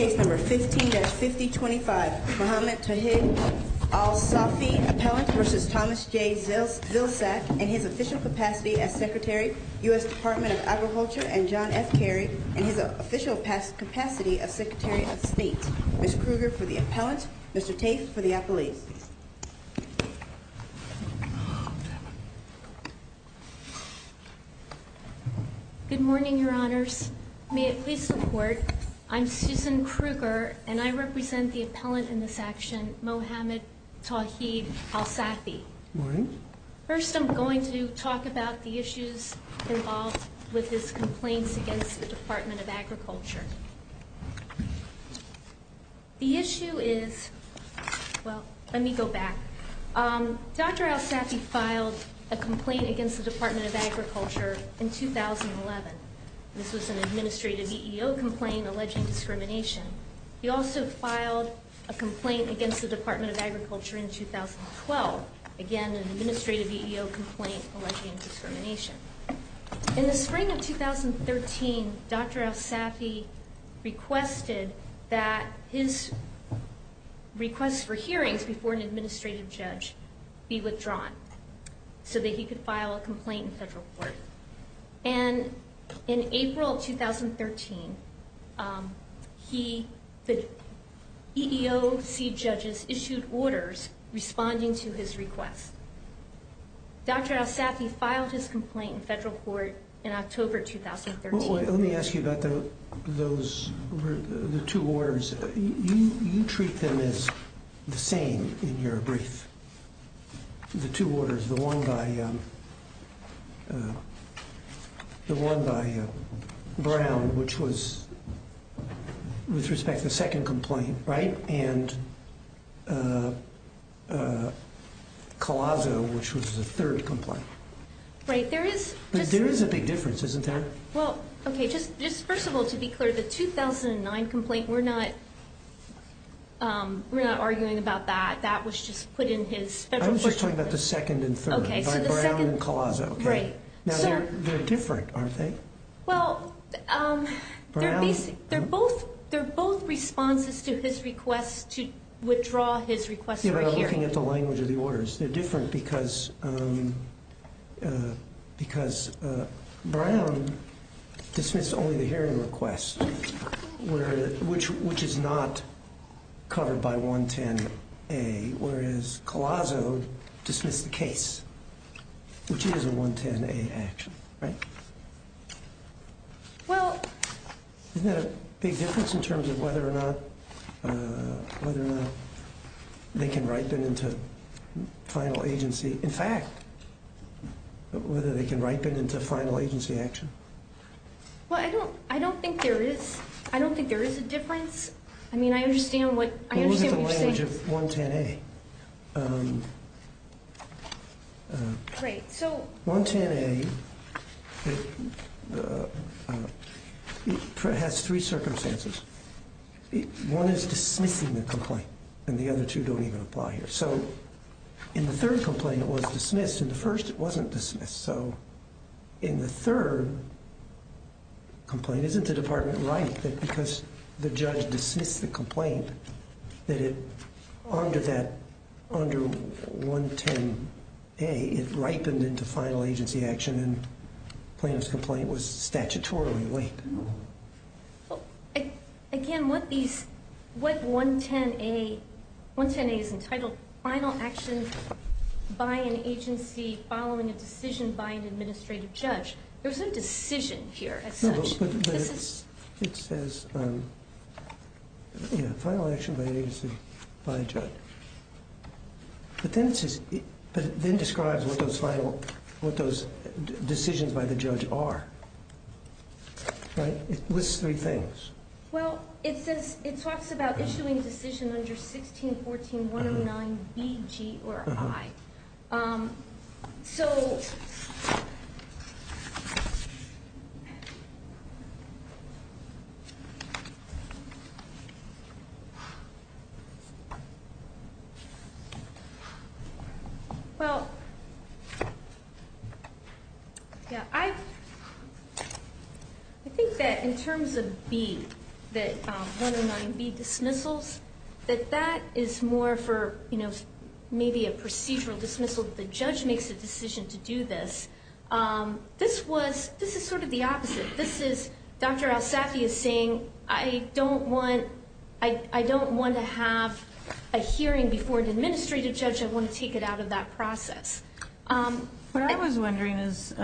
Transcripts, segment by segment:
in his official capacity as Secretary, U.S. Department of Agriculture, and John F. Carey in his official capacity as Secretary of State. Ms. Krueger for the Appellant, Mr. Tate for the Appellate. Good morning, Your Honors. In support, I'm Susan Krueger, and I represent the Appellant in this action, Mohamed Tawhid Al-Saffy. Good morning. First, I'm going to talk about the issues involved with his complaints against the Department of Agriculture. The issue is – well, let me go back. Dr. Al-Saffy filed a complaint against the Department of Agriculture in 2011. This was an administrative EEO complaint alleging discrimination. He also filed a complaint against the Department of Agriculture in 2012. Again, an administrative EEO complaint alleging discrimination. In the spring of 2013, Dr. Al-Saffy requested that his request for hearings before an administrative judge be withdrawn so that he could file a complaint in federal court. And in April 2013, the EEOC judges issued orders responding to his request. Dr. Al-Saffy filed his complaint in federal court in October 2013. Let me ask you about the two orders. You treat them as the same in your brief, the two orders. The one by Brown, which was – with respect to the second complaint, right? And Collazo, which was the third complaint. Right. There is – But there is a big difference, isn't there? Well, okay, just first of all, to be clear, the 2009 complaint, we're not arguing about that. That was just put in his federal court record. I was just talking about the second and third. Okay, so the second – By Brown and Collazo. Right. Now, they're different, aren't they? Well, they're both responses to his request to withdraw his request for a hearing. Yeah, but I'm looking at the language of the orders. They're different because Brown dismissed only the hearing request, which is not covered by 110A, whereas Collazo dismissed the case, which is a 110A action, right? Well – Isn't that a big difference in terms of whether or not they can ripen into final agency – in fact, whether they can ripen into final agency action? Well, I don't think there is – I don't think there is a difference. I mean, I understand what you're saying. Well, look at the language of 110A. Right, so – 110A has three circumstances. One is dismissing the complaint, and the other two don't even apply here. So in the third complaint, it was dismissed. In the first, it wasn't dismissed. So in the third complaint, isn't the department right that because the judge dismissed the complaint, that it – under that – under 110A, it ripened into final agency action, and the plaintiff's complaint was statutorily weak? Well, again, what these – what 110A – 110A is entitled, final action by an agency following a decision by an administrative judge. There's no decision here as such. No, but it says – yeah, final action by an agency by a judge. But then it says – but then it describes what those final – what those decisions by the judge are, right? It lists three things. Well, it says – it talks about issuing a decision under 1614.109BG or I. So – Well, yeah, I think that in terms of B, that 109B dismissals, that that is more for, you know, maybe a procedural dismissal. The judge makes a decision to do this. This was – this is sort of the opposite. This is – Dr. Alsafi is saying, I don't want – I don't want to have a hearing before an administrative judge. I want to take it out of that process. What I was wondering is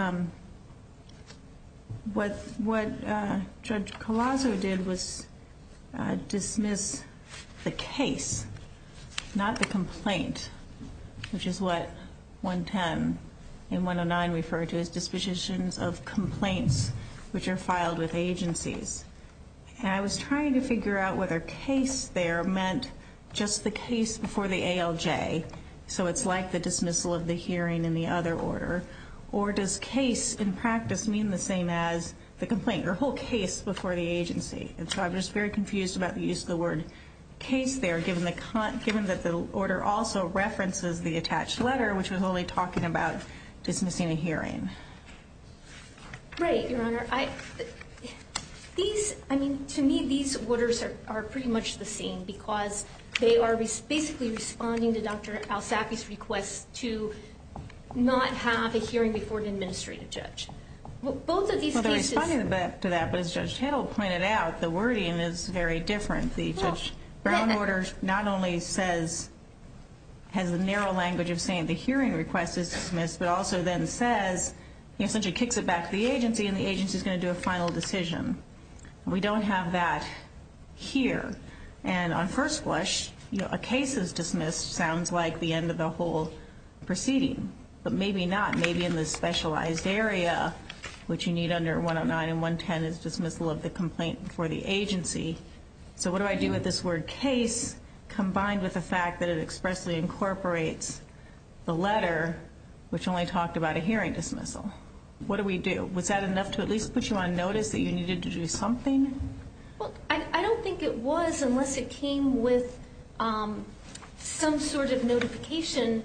what Judge Collazo did was dismiss the case, not the complaint, which is what 110 and 109 refer to as dispositions of complaints which are filed with agencies. And I was trying to figure out whether case there meant just the case before the ALJ, so it's like the dismissal of the hearing in the other order, or does case in practice mean the same as the complaint or whole case before the agency? And so I'm just very confused about the use of the word case there, given the – given that the order also references the attached letter, which was only talking about dismissing a hearing. Right, Your Honor. These – I mean, to me, these orders are pretty much the same because they are basically responding to Dr. Alsafi's request to not have a hearing before an administrative judge. Both of these cases – Well, they're responding to that, but as Judge Hittle pointed out, the wording is very different. The Judge Brown order not only says – has the narrow language of saying the hearing request is dismissed, but also then says – essentially kicks it back to the agency, and the agency is going to do a final decision. We don't have that here. And on first blush, a case is dismissed sounds like the end of the whole proceeding. But maybe not. Maybe in the specialized area, which you need under 109 and 110 is dismissal of the complaint before the agency. So what do I do with this word case combined with the fact that it expressly incorporates the letter, which only talked about a hearing dismissal? What do we do? Was that enough to at least put you on notice that you needed to do something? Well, I don't think it was unless it came with some sort of notification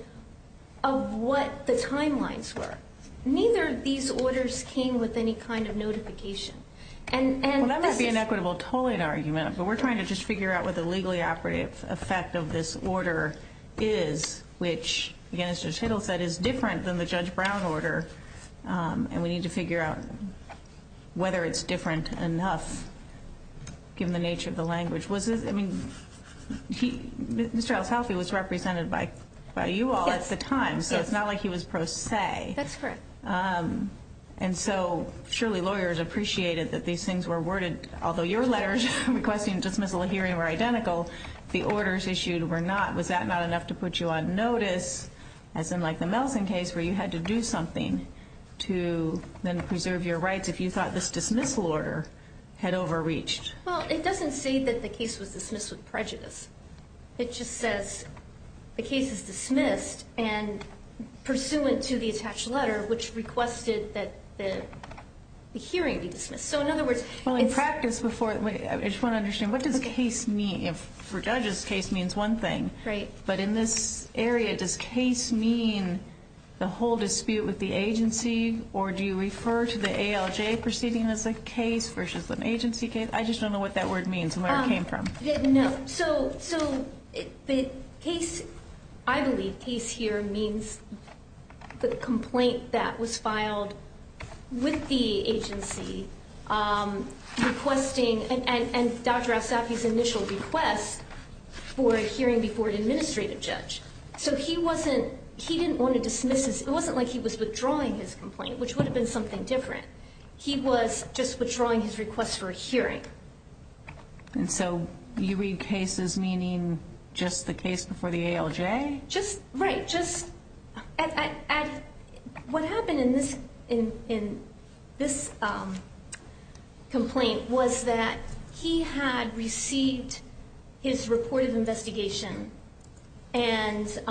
of what the timelines were. Neither of these orders came with any kind of notification. And this is – Well, that might be an equitable tolling argument, but we're trying to just figure out what the legally operative effect of this order is, which, again, as Judge Hittle said, is different than the Judge Brown order. And we need to figure out whether it's different enough, given the nature of the language. Was this – I mean, Mr. Altshelfie was represented by you all at the time. Yes. So it's not like he was pro se. That's correct. And so surely lawyers appreciated that these things were worded. Although your letters requesting dismissal of hearing were identical, the orders issued were not. Was that not enough to put you on notice, as in like the Melson case, where you had to do something to then preserve your rights if you thought this dismissal order had overreached? Well, it doesn't say that the case was dismissed with prejudice. It just says the case is dismissed and pursuant to the attached letter, which requested that the hearing be dismissed. So, in other words, it's – Well, in practice before – I just want to understand. What does case mean? For judges, case means one thing. Right. But in this area, does case mean the whole dispute with the agency, or do you refer to the ALJ proceeding as a case versus an agency case? I just don't know what that word means and where it came from. No. So the case – I believe case here means the complaint that was filed with the agency requesting – and Dr. Alsafi's initial request for a hearing before an administrative judge. So he wasn't – he didn't want to dismiss this. It wasn't like he was withdrawing his complaint, which would have been something different. He was just withdrawing his request for a hearing. And so you read case as meaning just the case before the ALJ? Right. Just – what happened in this complaint was that he had received his report of investigation and –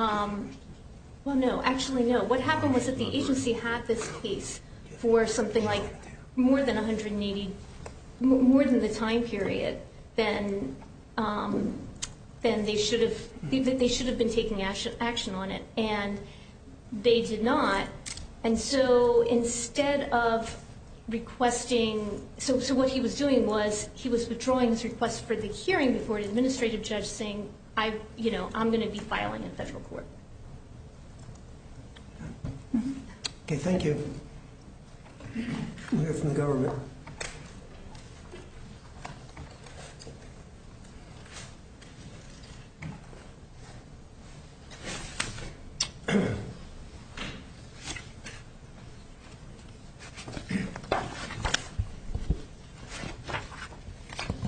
well, no, actually no. What happened was that the agency had this case for something like more than 180 – and they did not. And so instead of requesting – so what he was doing was he was withdrawing his request for the hearing before an administrative judge saying, you know, I'm going to be filing in federal court. Okay. We'll hear from the government. Thank you.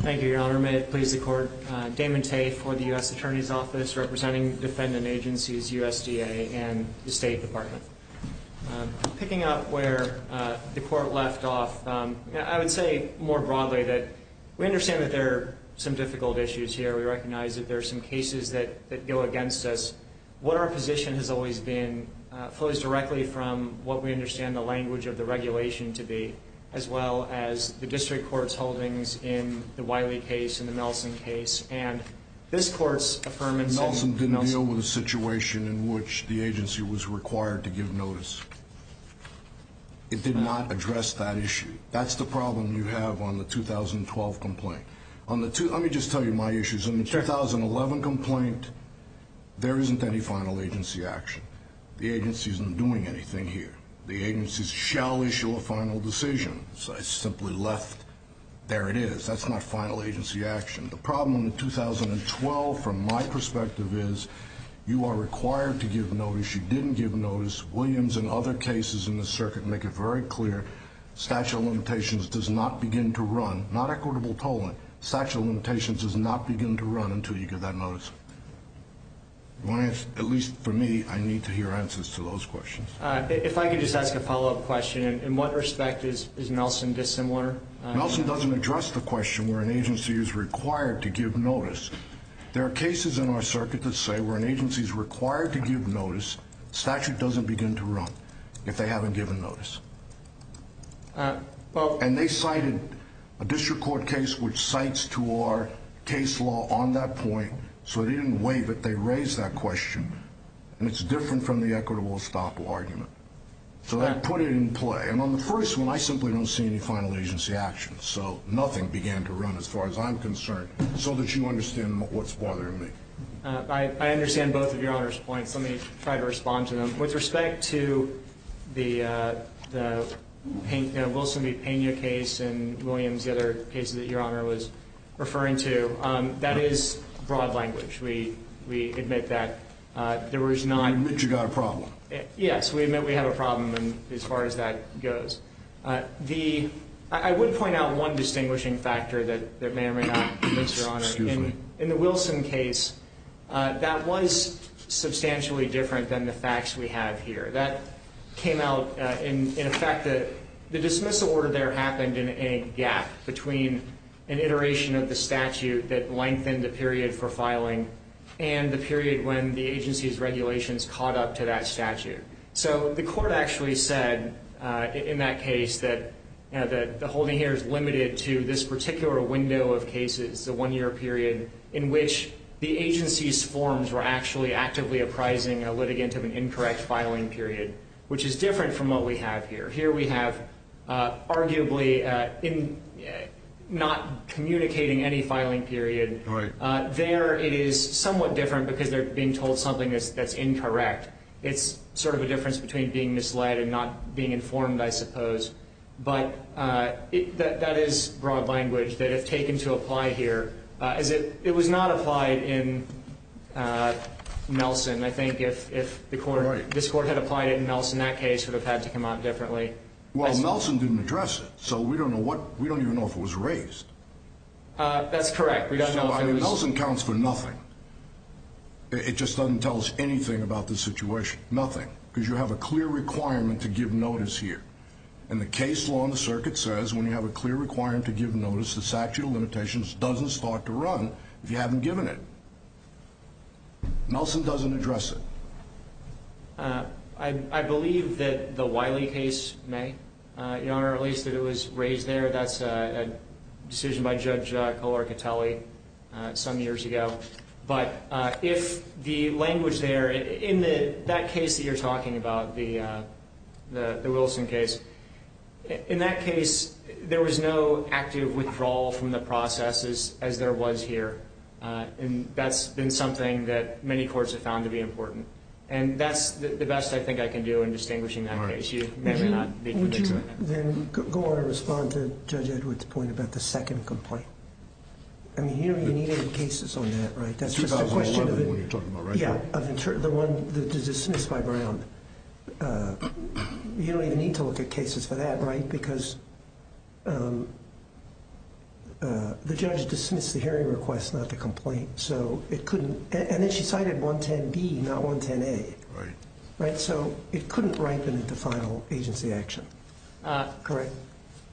Thank you, Your Honor. May it please the Court. Damon Tate for the U.S. Attorney's Office representing defendant agencies, USDA, and the State Department. Picking up where the Court left off, I would say more broadly that we understand that there are some difficult issues here. We recognize that there are some cases that go against us. What our position has always been flows directly from what we understand the language of the regulation to be, as well as the district court's holdings in the Wiley case and the Nelson case. And this Court's affirmation – Nelson didn't deal with a situation in which the agency was required to give notice. It did not address that issue. That's the problem you have on the 2012 complaint. Let me just tell you my issues. In the 2011 complaint, there isn't any final agency action. The agency isn't doing anything here. The agency shall issue a final decision. I simply left – there it is. That's not final agency action. The problem in 2012, from my perspective, is you are required to give notice. You didn't give notice. Williams and other cases in the circuit make it very clear statute of limitations does not begin to run. Not equitable tolling. Statute of limitations does not begin to run until you give that notice. At least for me, I need to hear answers to those questions. If I could just ask a follow-up question. In what respect is Nelson dissimilar? Nelson doesn't address the question where an agency is required to give notice. There are cases in our circuit that say where an agency is required to give notice, statute doesn't begin to run if they haven't given notice. And they cited a district court case which cites to our case law on that point, so they didn't waive it. They raised that question, and it's different from the equitable estoppel argument. So that put it in play. And on the first one, I simply don't see any final agency action. So nothing began to run as far as I'm concerned, so that you understand what's bothering me. I understand both of Your Honor's points. Let me try to respond to them. With respect to the Wilson v. Pena case and Williams, the other cases that Your Honor was referring to, that is broad language. We admit that there was not. You admit you've got a problem. Yes, we admit we have a problem as far as that goes. I would point out one distinguishing factor that may or may not convince Your Honor. Excuse me. In the Wilson case, that was substantially different than the facts we have here. That came out in effect. The dismissal order there happened in a gap between an iteration of the statute that lengthened the period for filing and the period when the agency's regulations caught up to that statute. So the court actually said in that case that the holding here is limited to this particular window of cases, the one-year period in which the agency's forms were actually actively apprising a litigant of an incorrect filing period, which is different from what we have here. Here we have arguably not communicating any filing period. There it is somewhat different because they're being told something that's incorrect. It's sort of a difference between being misled and not being informed, I suppose. But that is broad language that if taken to apply here. It was not applied in Nelson. I think if this court had applied it in Nelson, that case would have had to come out differently. Well, Nelson didn't address it, so we don't even know if it was raised. That's correct. Nelson counts for nothing. It just doesn't tell us anything about the situation, nothing, because you have a clear requirement to give notice here. And the case law in the circuit says when you have a clear requirement to give notice, the statute of limitations doesn't start to run if you haven't given it. Nelson doesn't address it. I believe that the Wiley case may, Your Honor, at least that it was raised there. That's a decision by Judge Colaricatelli some years ago. But if the language there, in that case that you're talking about, the Wilson case, in that case there was no active withdrawal from the processes as there was here. And that's been something that many courts have found to be important. And that's the best I think I can do in distinguishing that case. You may or may not be able to do that. Then go on and respond to Judge Edwards' point about the second complaint. I mean, you don't need any cases on that, right? That's just a question of the one that was dismissed by Brown. You don't even need to look at cases for that, right? Because the judge dismissed the hearing request, not the complaint. And then she cited 110B, not 110A. So it couldn't ripen into final agency action. Correct.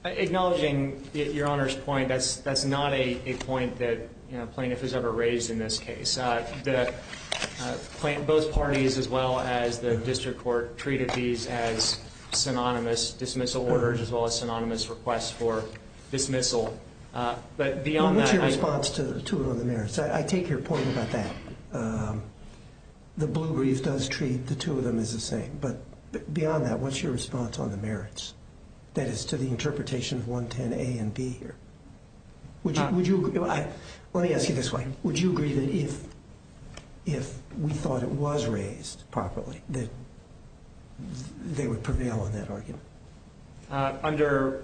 Acknowledging Your Honor's point, that's not a point that plaintiff has ever raised in this case. Both parties as well as the district court treated these as synonymous dismissal orders as well as synonymous requests for dismissal. But beyond that, I think— What's your response to it on the merits? I take your point about that. The Blue Brief does treat the two of them as the same. But beyond that, what's your response on the merits? That is, to the interpretation of 110A and B here. Would you—let me ask you this way. Would you agree that if we thought it was raised properly that they would prevail on that argument? Under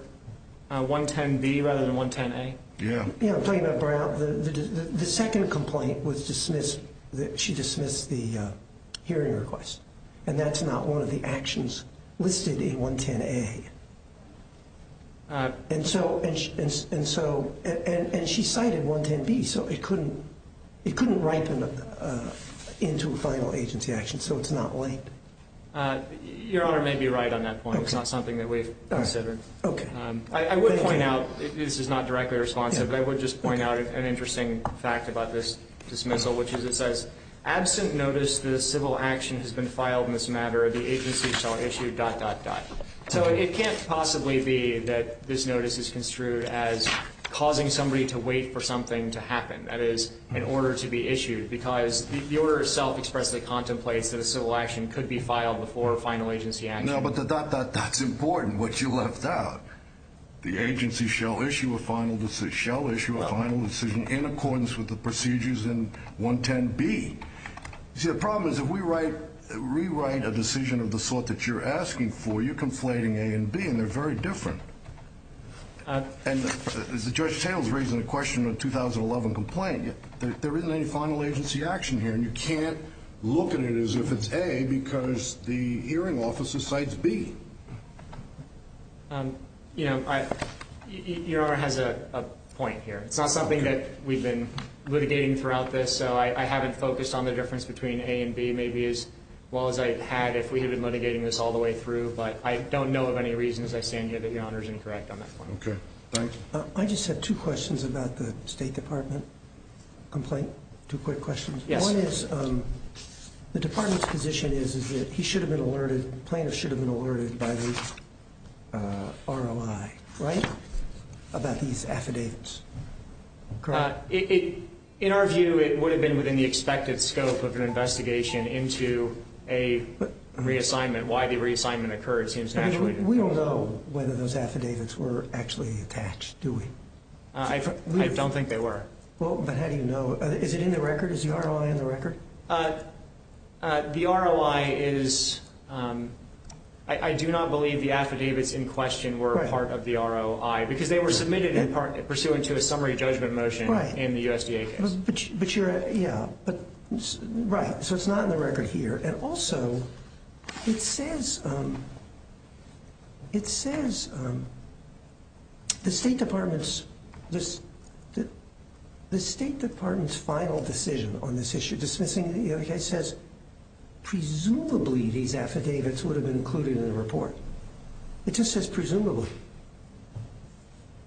110B rather than 110A? Yeah, I'm talking about Brown. The second complaint was dismissed. She dismissed the hearing request. And that's not one of the actions listed in 110A. And so—and she cited 110B, so it couldn't ripen into final agency action, so it's not late. Your Honor may be right on that point. It's not something that we've considered. I would point out—this is not directly responsive, but I would just point out an interesting fact about this dismissal, which is it says, the notice that a civil action has been filed in this matter, the agency shall issue dot, dot, dot. So it can't possibly be that this notice is construed as causing somebody to wait for something to happen. That is, an order to be issued, because the order itself expressly contemplates that a civil action could be filed before final agency action. No, but the dot, dot, dot's important, what you left out. The agency shall issue a final—shall issue a final decision in accordance with the procedures in 110B. You see, the problem is, if we write—rewrite a decision of the sort that you're asking for, you're conflating A and B, and they're very different. And as Judge Taylor's raising the question of the 2011 complaint, there isn't any final agency action here, and you can't look at it as if it's A because the hearing officer cites B. You know, I—Your Honor has a point here. It's not something that we've been litigating throughout this, so I haven't focused on the difference between A and B maybe as well as I had if we had been litigating this all the way through, but I don't know of any reason, as I stand here, that Your Honor's incorrect on that point. Okay. Thank you. I just have two questions about the State Department complaint. Two quick questions. Yes. One is, the department's position is that he should have been alerted, the plaintiff should have been alerted by the ROI, right, about these affidavits? In our view, it would have been within the expected scope of an investigation into a reassignment. Why the reassignment occurred seems naturally— I mean, we don't know whether those affidavits were actually attached, do we? I don't think they were. Well, but how do you know? Is it in the record? Is the ROI in the record? The ROI is—I do not believe the affidavits in question were part of the ROI because they were submitted in part pursuant to a summary judgment motion in the USDA case. But you're—yeah. Right, so it's not in the record here. And also, it says—it says the State Department's—the State Department's final decision on this issue, dismissing the case, says presumably these affidavits would have been included in the report. It just says presumably.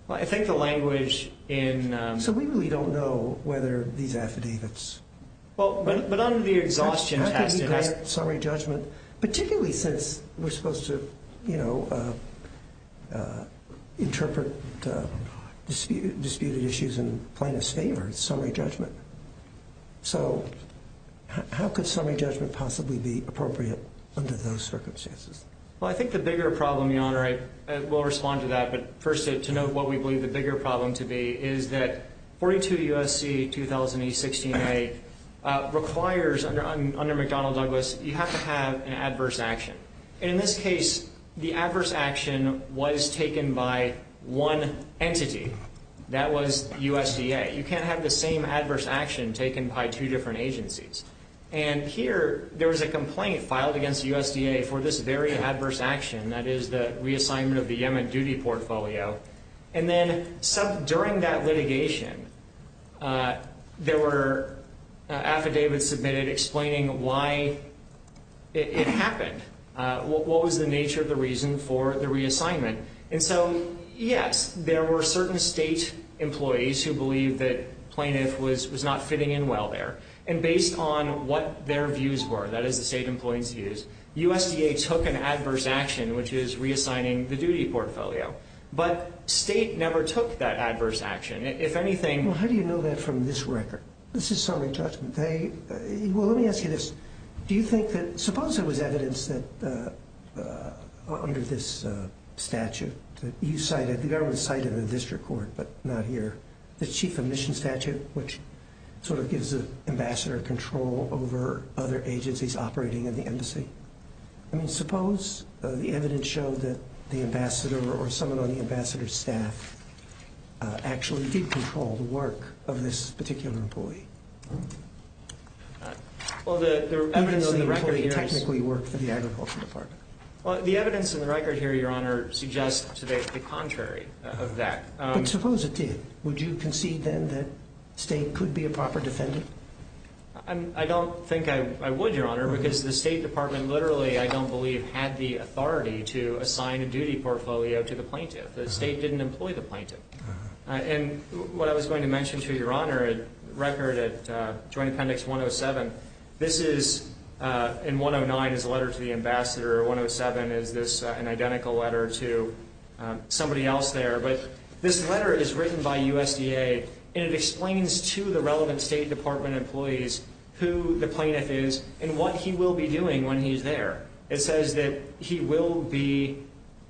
Well, I think the language in— So we really don't know whether these affidavits— Well, but under the exhaustion test— How could you grant summary judgment, particularly since we're supposed to, you know, interpret disputed issues in plaintiff's favor in summary judgment? So how could summary judgment possibly be appropriate under those circumstances? Well, I think the bigger problem, Your Honor—I will respond to that, but first to note what we believe the bigger problem to be is that 42 U.S.C. 2000 E-16A requires, under McDonnell-Douglas, you have to have an adverse action. And in this case, the adverse action was taken by one entity. That was USDA. You can't have the same adverse action taken by two different agencies. And here, there was a complaint filed against USDA for this very adverse action, that is the reassignment of the Yemen duty portfolio. And then during that litigation, there were affidavits submitted explaining why it happened, what was the nature of the reason for the reassignment. And so, yes, there were certain state employees who believed that plaintiff was not fitting in well there. And based on what their views were, that is the state employee's views, USDA took an adverse action, which is reassigning the duty portfolio. But state never took that adverse action. If anything— Well, how do you know that from this record? This is sonic judgment. They—well, let me ask you this. Do you think that—suppose there was evidence that, under this statute, that you cited—the government cited in the district court, but not here, the chief of mission statute, which sort of gives the ambassador control over other agencies operating in the embassy. I mean, suppose the evidence showed that the ambassador or someone on the ambassador's staff actually did control the work of this particular employee. Well, the evidence in the record here— Even though the employee technically worked for the Agriculture Department. Well, the evidence in the record here, Your Honor, suggests the contrary of that. But suppose it did. Would you concede then that state could be a proper defendant? I don't think I would, Your Honor, because the State Department literally, I don't believe, had the authority to assign a duty portfolio to the plaintiff. The state didn't employ the plaintiff. And what I was going to mention to Your Honor, a record at Joint Appendix 107, this is— in 109 is a letter to the ambassador, 107 is an identical letter to somebody else there. But this letter is written by USDA, and it explains to the relevant State Department employees who the plaintiff is and what he will be doing when he's there. It says that he will be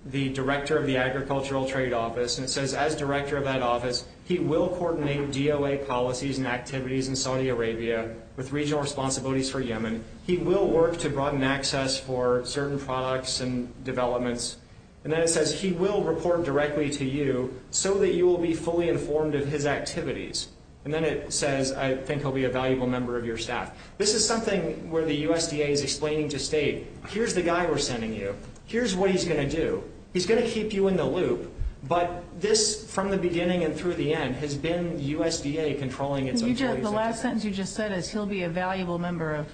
the director of the Agricultural Trade Office, and it says as director of that office, he will coordinate DOA policies and activities in Saudi Arabia with regional responsibilities for Yemen. He will work to broaden access for certain products and developments. And then it says he will report directly to you so that you will be fully informed of his activities. And then it says, I think he'll be a valuable member of your staff. This is something where the USDA is explaining to State, here's the guy we're sending you. Here's what he's going to do. He's going to keep you in the loop. But this, from the beginning and through the end, has been USDA controlling its employees. The last sentence you just said is he'll be a valuable member of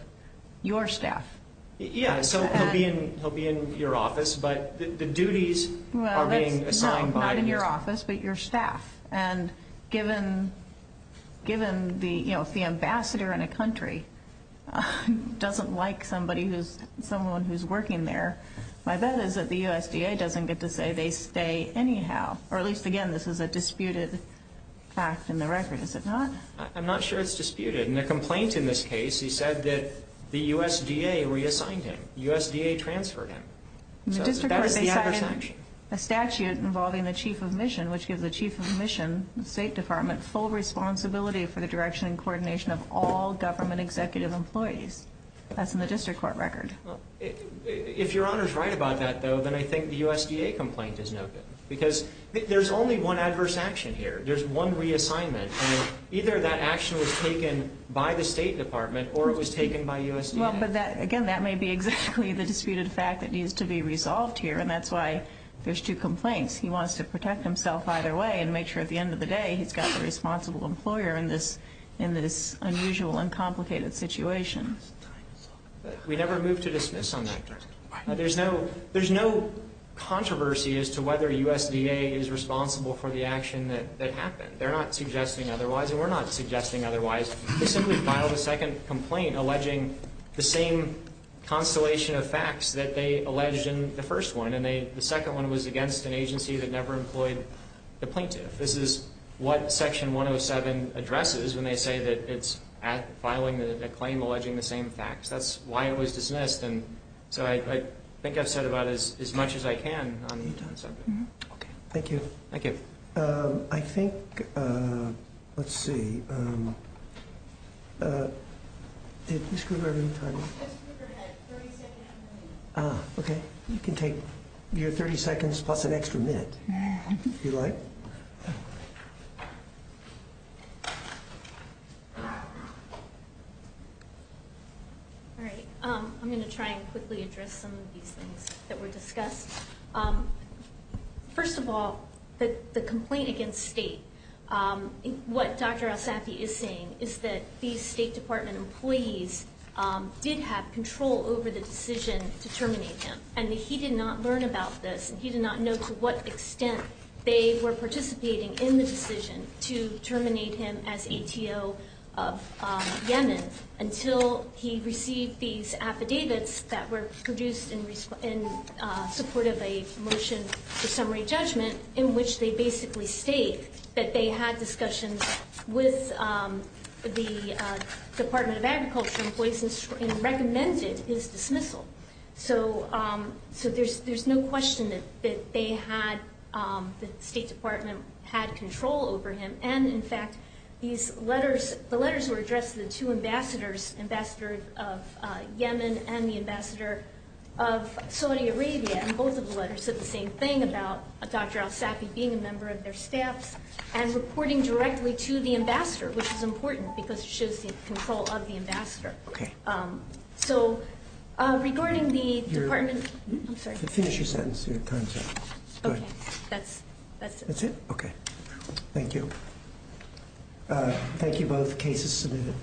your staff. Yeah, so he'll be in your office, but the duties are being assigned by your staff. Not in your office, but your staff. And given the ambassador in a country doesn't like someone who's working there, my bet is that the USDA doesn't get to say they stay anyhow. Or at least, again, this is a disputed fact in the record, is it not? I'm not sure it's disputed. In a complaint in this case, he said that the USDA reassigned him. The USDA transferred him. So that is the adverse action. In the district court, they cited a statute involving the chief of mission, which gives the chief of mission, the State Department, full responsibility for the direction and coordination of all government executive employees. That's in the district court record. If Your Honor is right about that, though, then I think the USDA complaint is no good. Because there's only one adverse action here. There's one reassignment. And either that action was taken by the State Department or it was taken by USDA. Again, that may be exactly the disputed fact that needs to be resolved here, and that's why there's two complaints. He wants to protect himself either way and make sure at the end of the day he's got the responsible employer in this unusual and complicated situation. We never move to dismiss on that. There's no controversy as to whether USDA is responsible for the action that happened. They're not suggesting otherwise, and we're not suggesting otherwise. They simply filed a second complaint alleging the same constellation of facts that they alleged in the first one. And the second one was against an agency that never employed the plaintiff. This is what Section 107 addresses when they say that it's filing a claim alleging the same facts. That's why it was dismissed, and so I think I've said about as much as I can on the subject. Okay, thank you. Thank you. I think, let's see. Did Ms. Kruger have any time? Ms. Kruger had 30 seconds remaining. Ah, okay. You can take your 30 seconds plus an extra minute if you like. All right, I'm going to try and quickly address some of these things that were discussed. First of all, the complaint against state. What Dr. Alsafi is saying is that these State Department employees did have control over the decision to terminate him, and he did not learn about this, and he did not know to what extent they were participating in the decision to terminate him as ATO of Yemen until he received these affidavits that were produced in support of a motion for summary judgment in which they basically state that they had discussions with the Department of Agriculture employees and recommended his dismissal. So there's no question that the State Department had control over him, and in fact, these letters, the letters were addressed to the two ambassadors, Ambassador of Yemen and the Ambassador of Saudi Arabia, and both of the letters said the same thing about Dr. Alsafi being a member of their staffs and reporting directly to the ambassador, which is important because it shows the control of the ambassador. Okay. So, regarding the Department, I'm sorry. Finish your sentence, your time sentence. Okay, that's it. That's it? Okay, thank you. Thank you both. Case is submitted.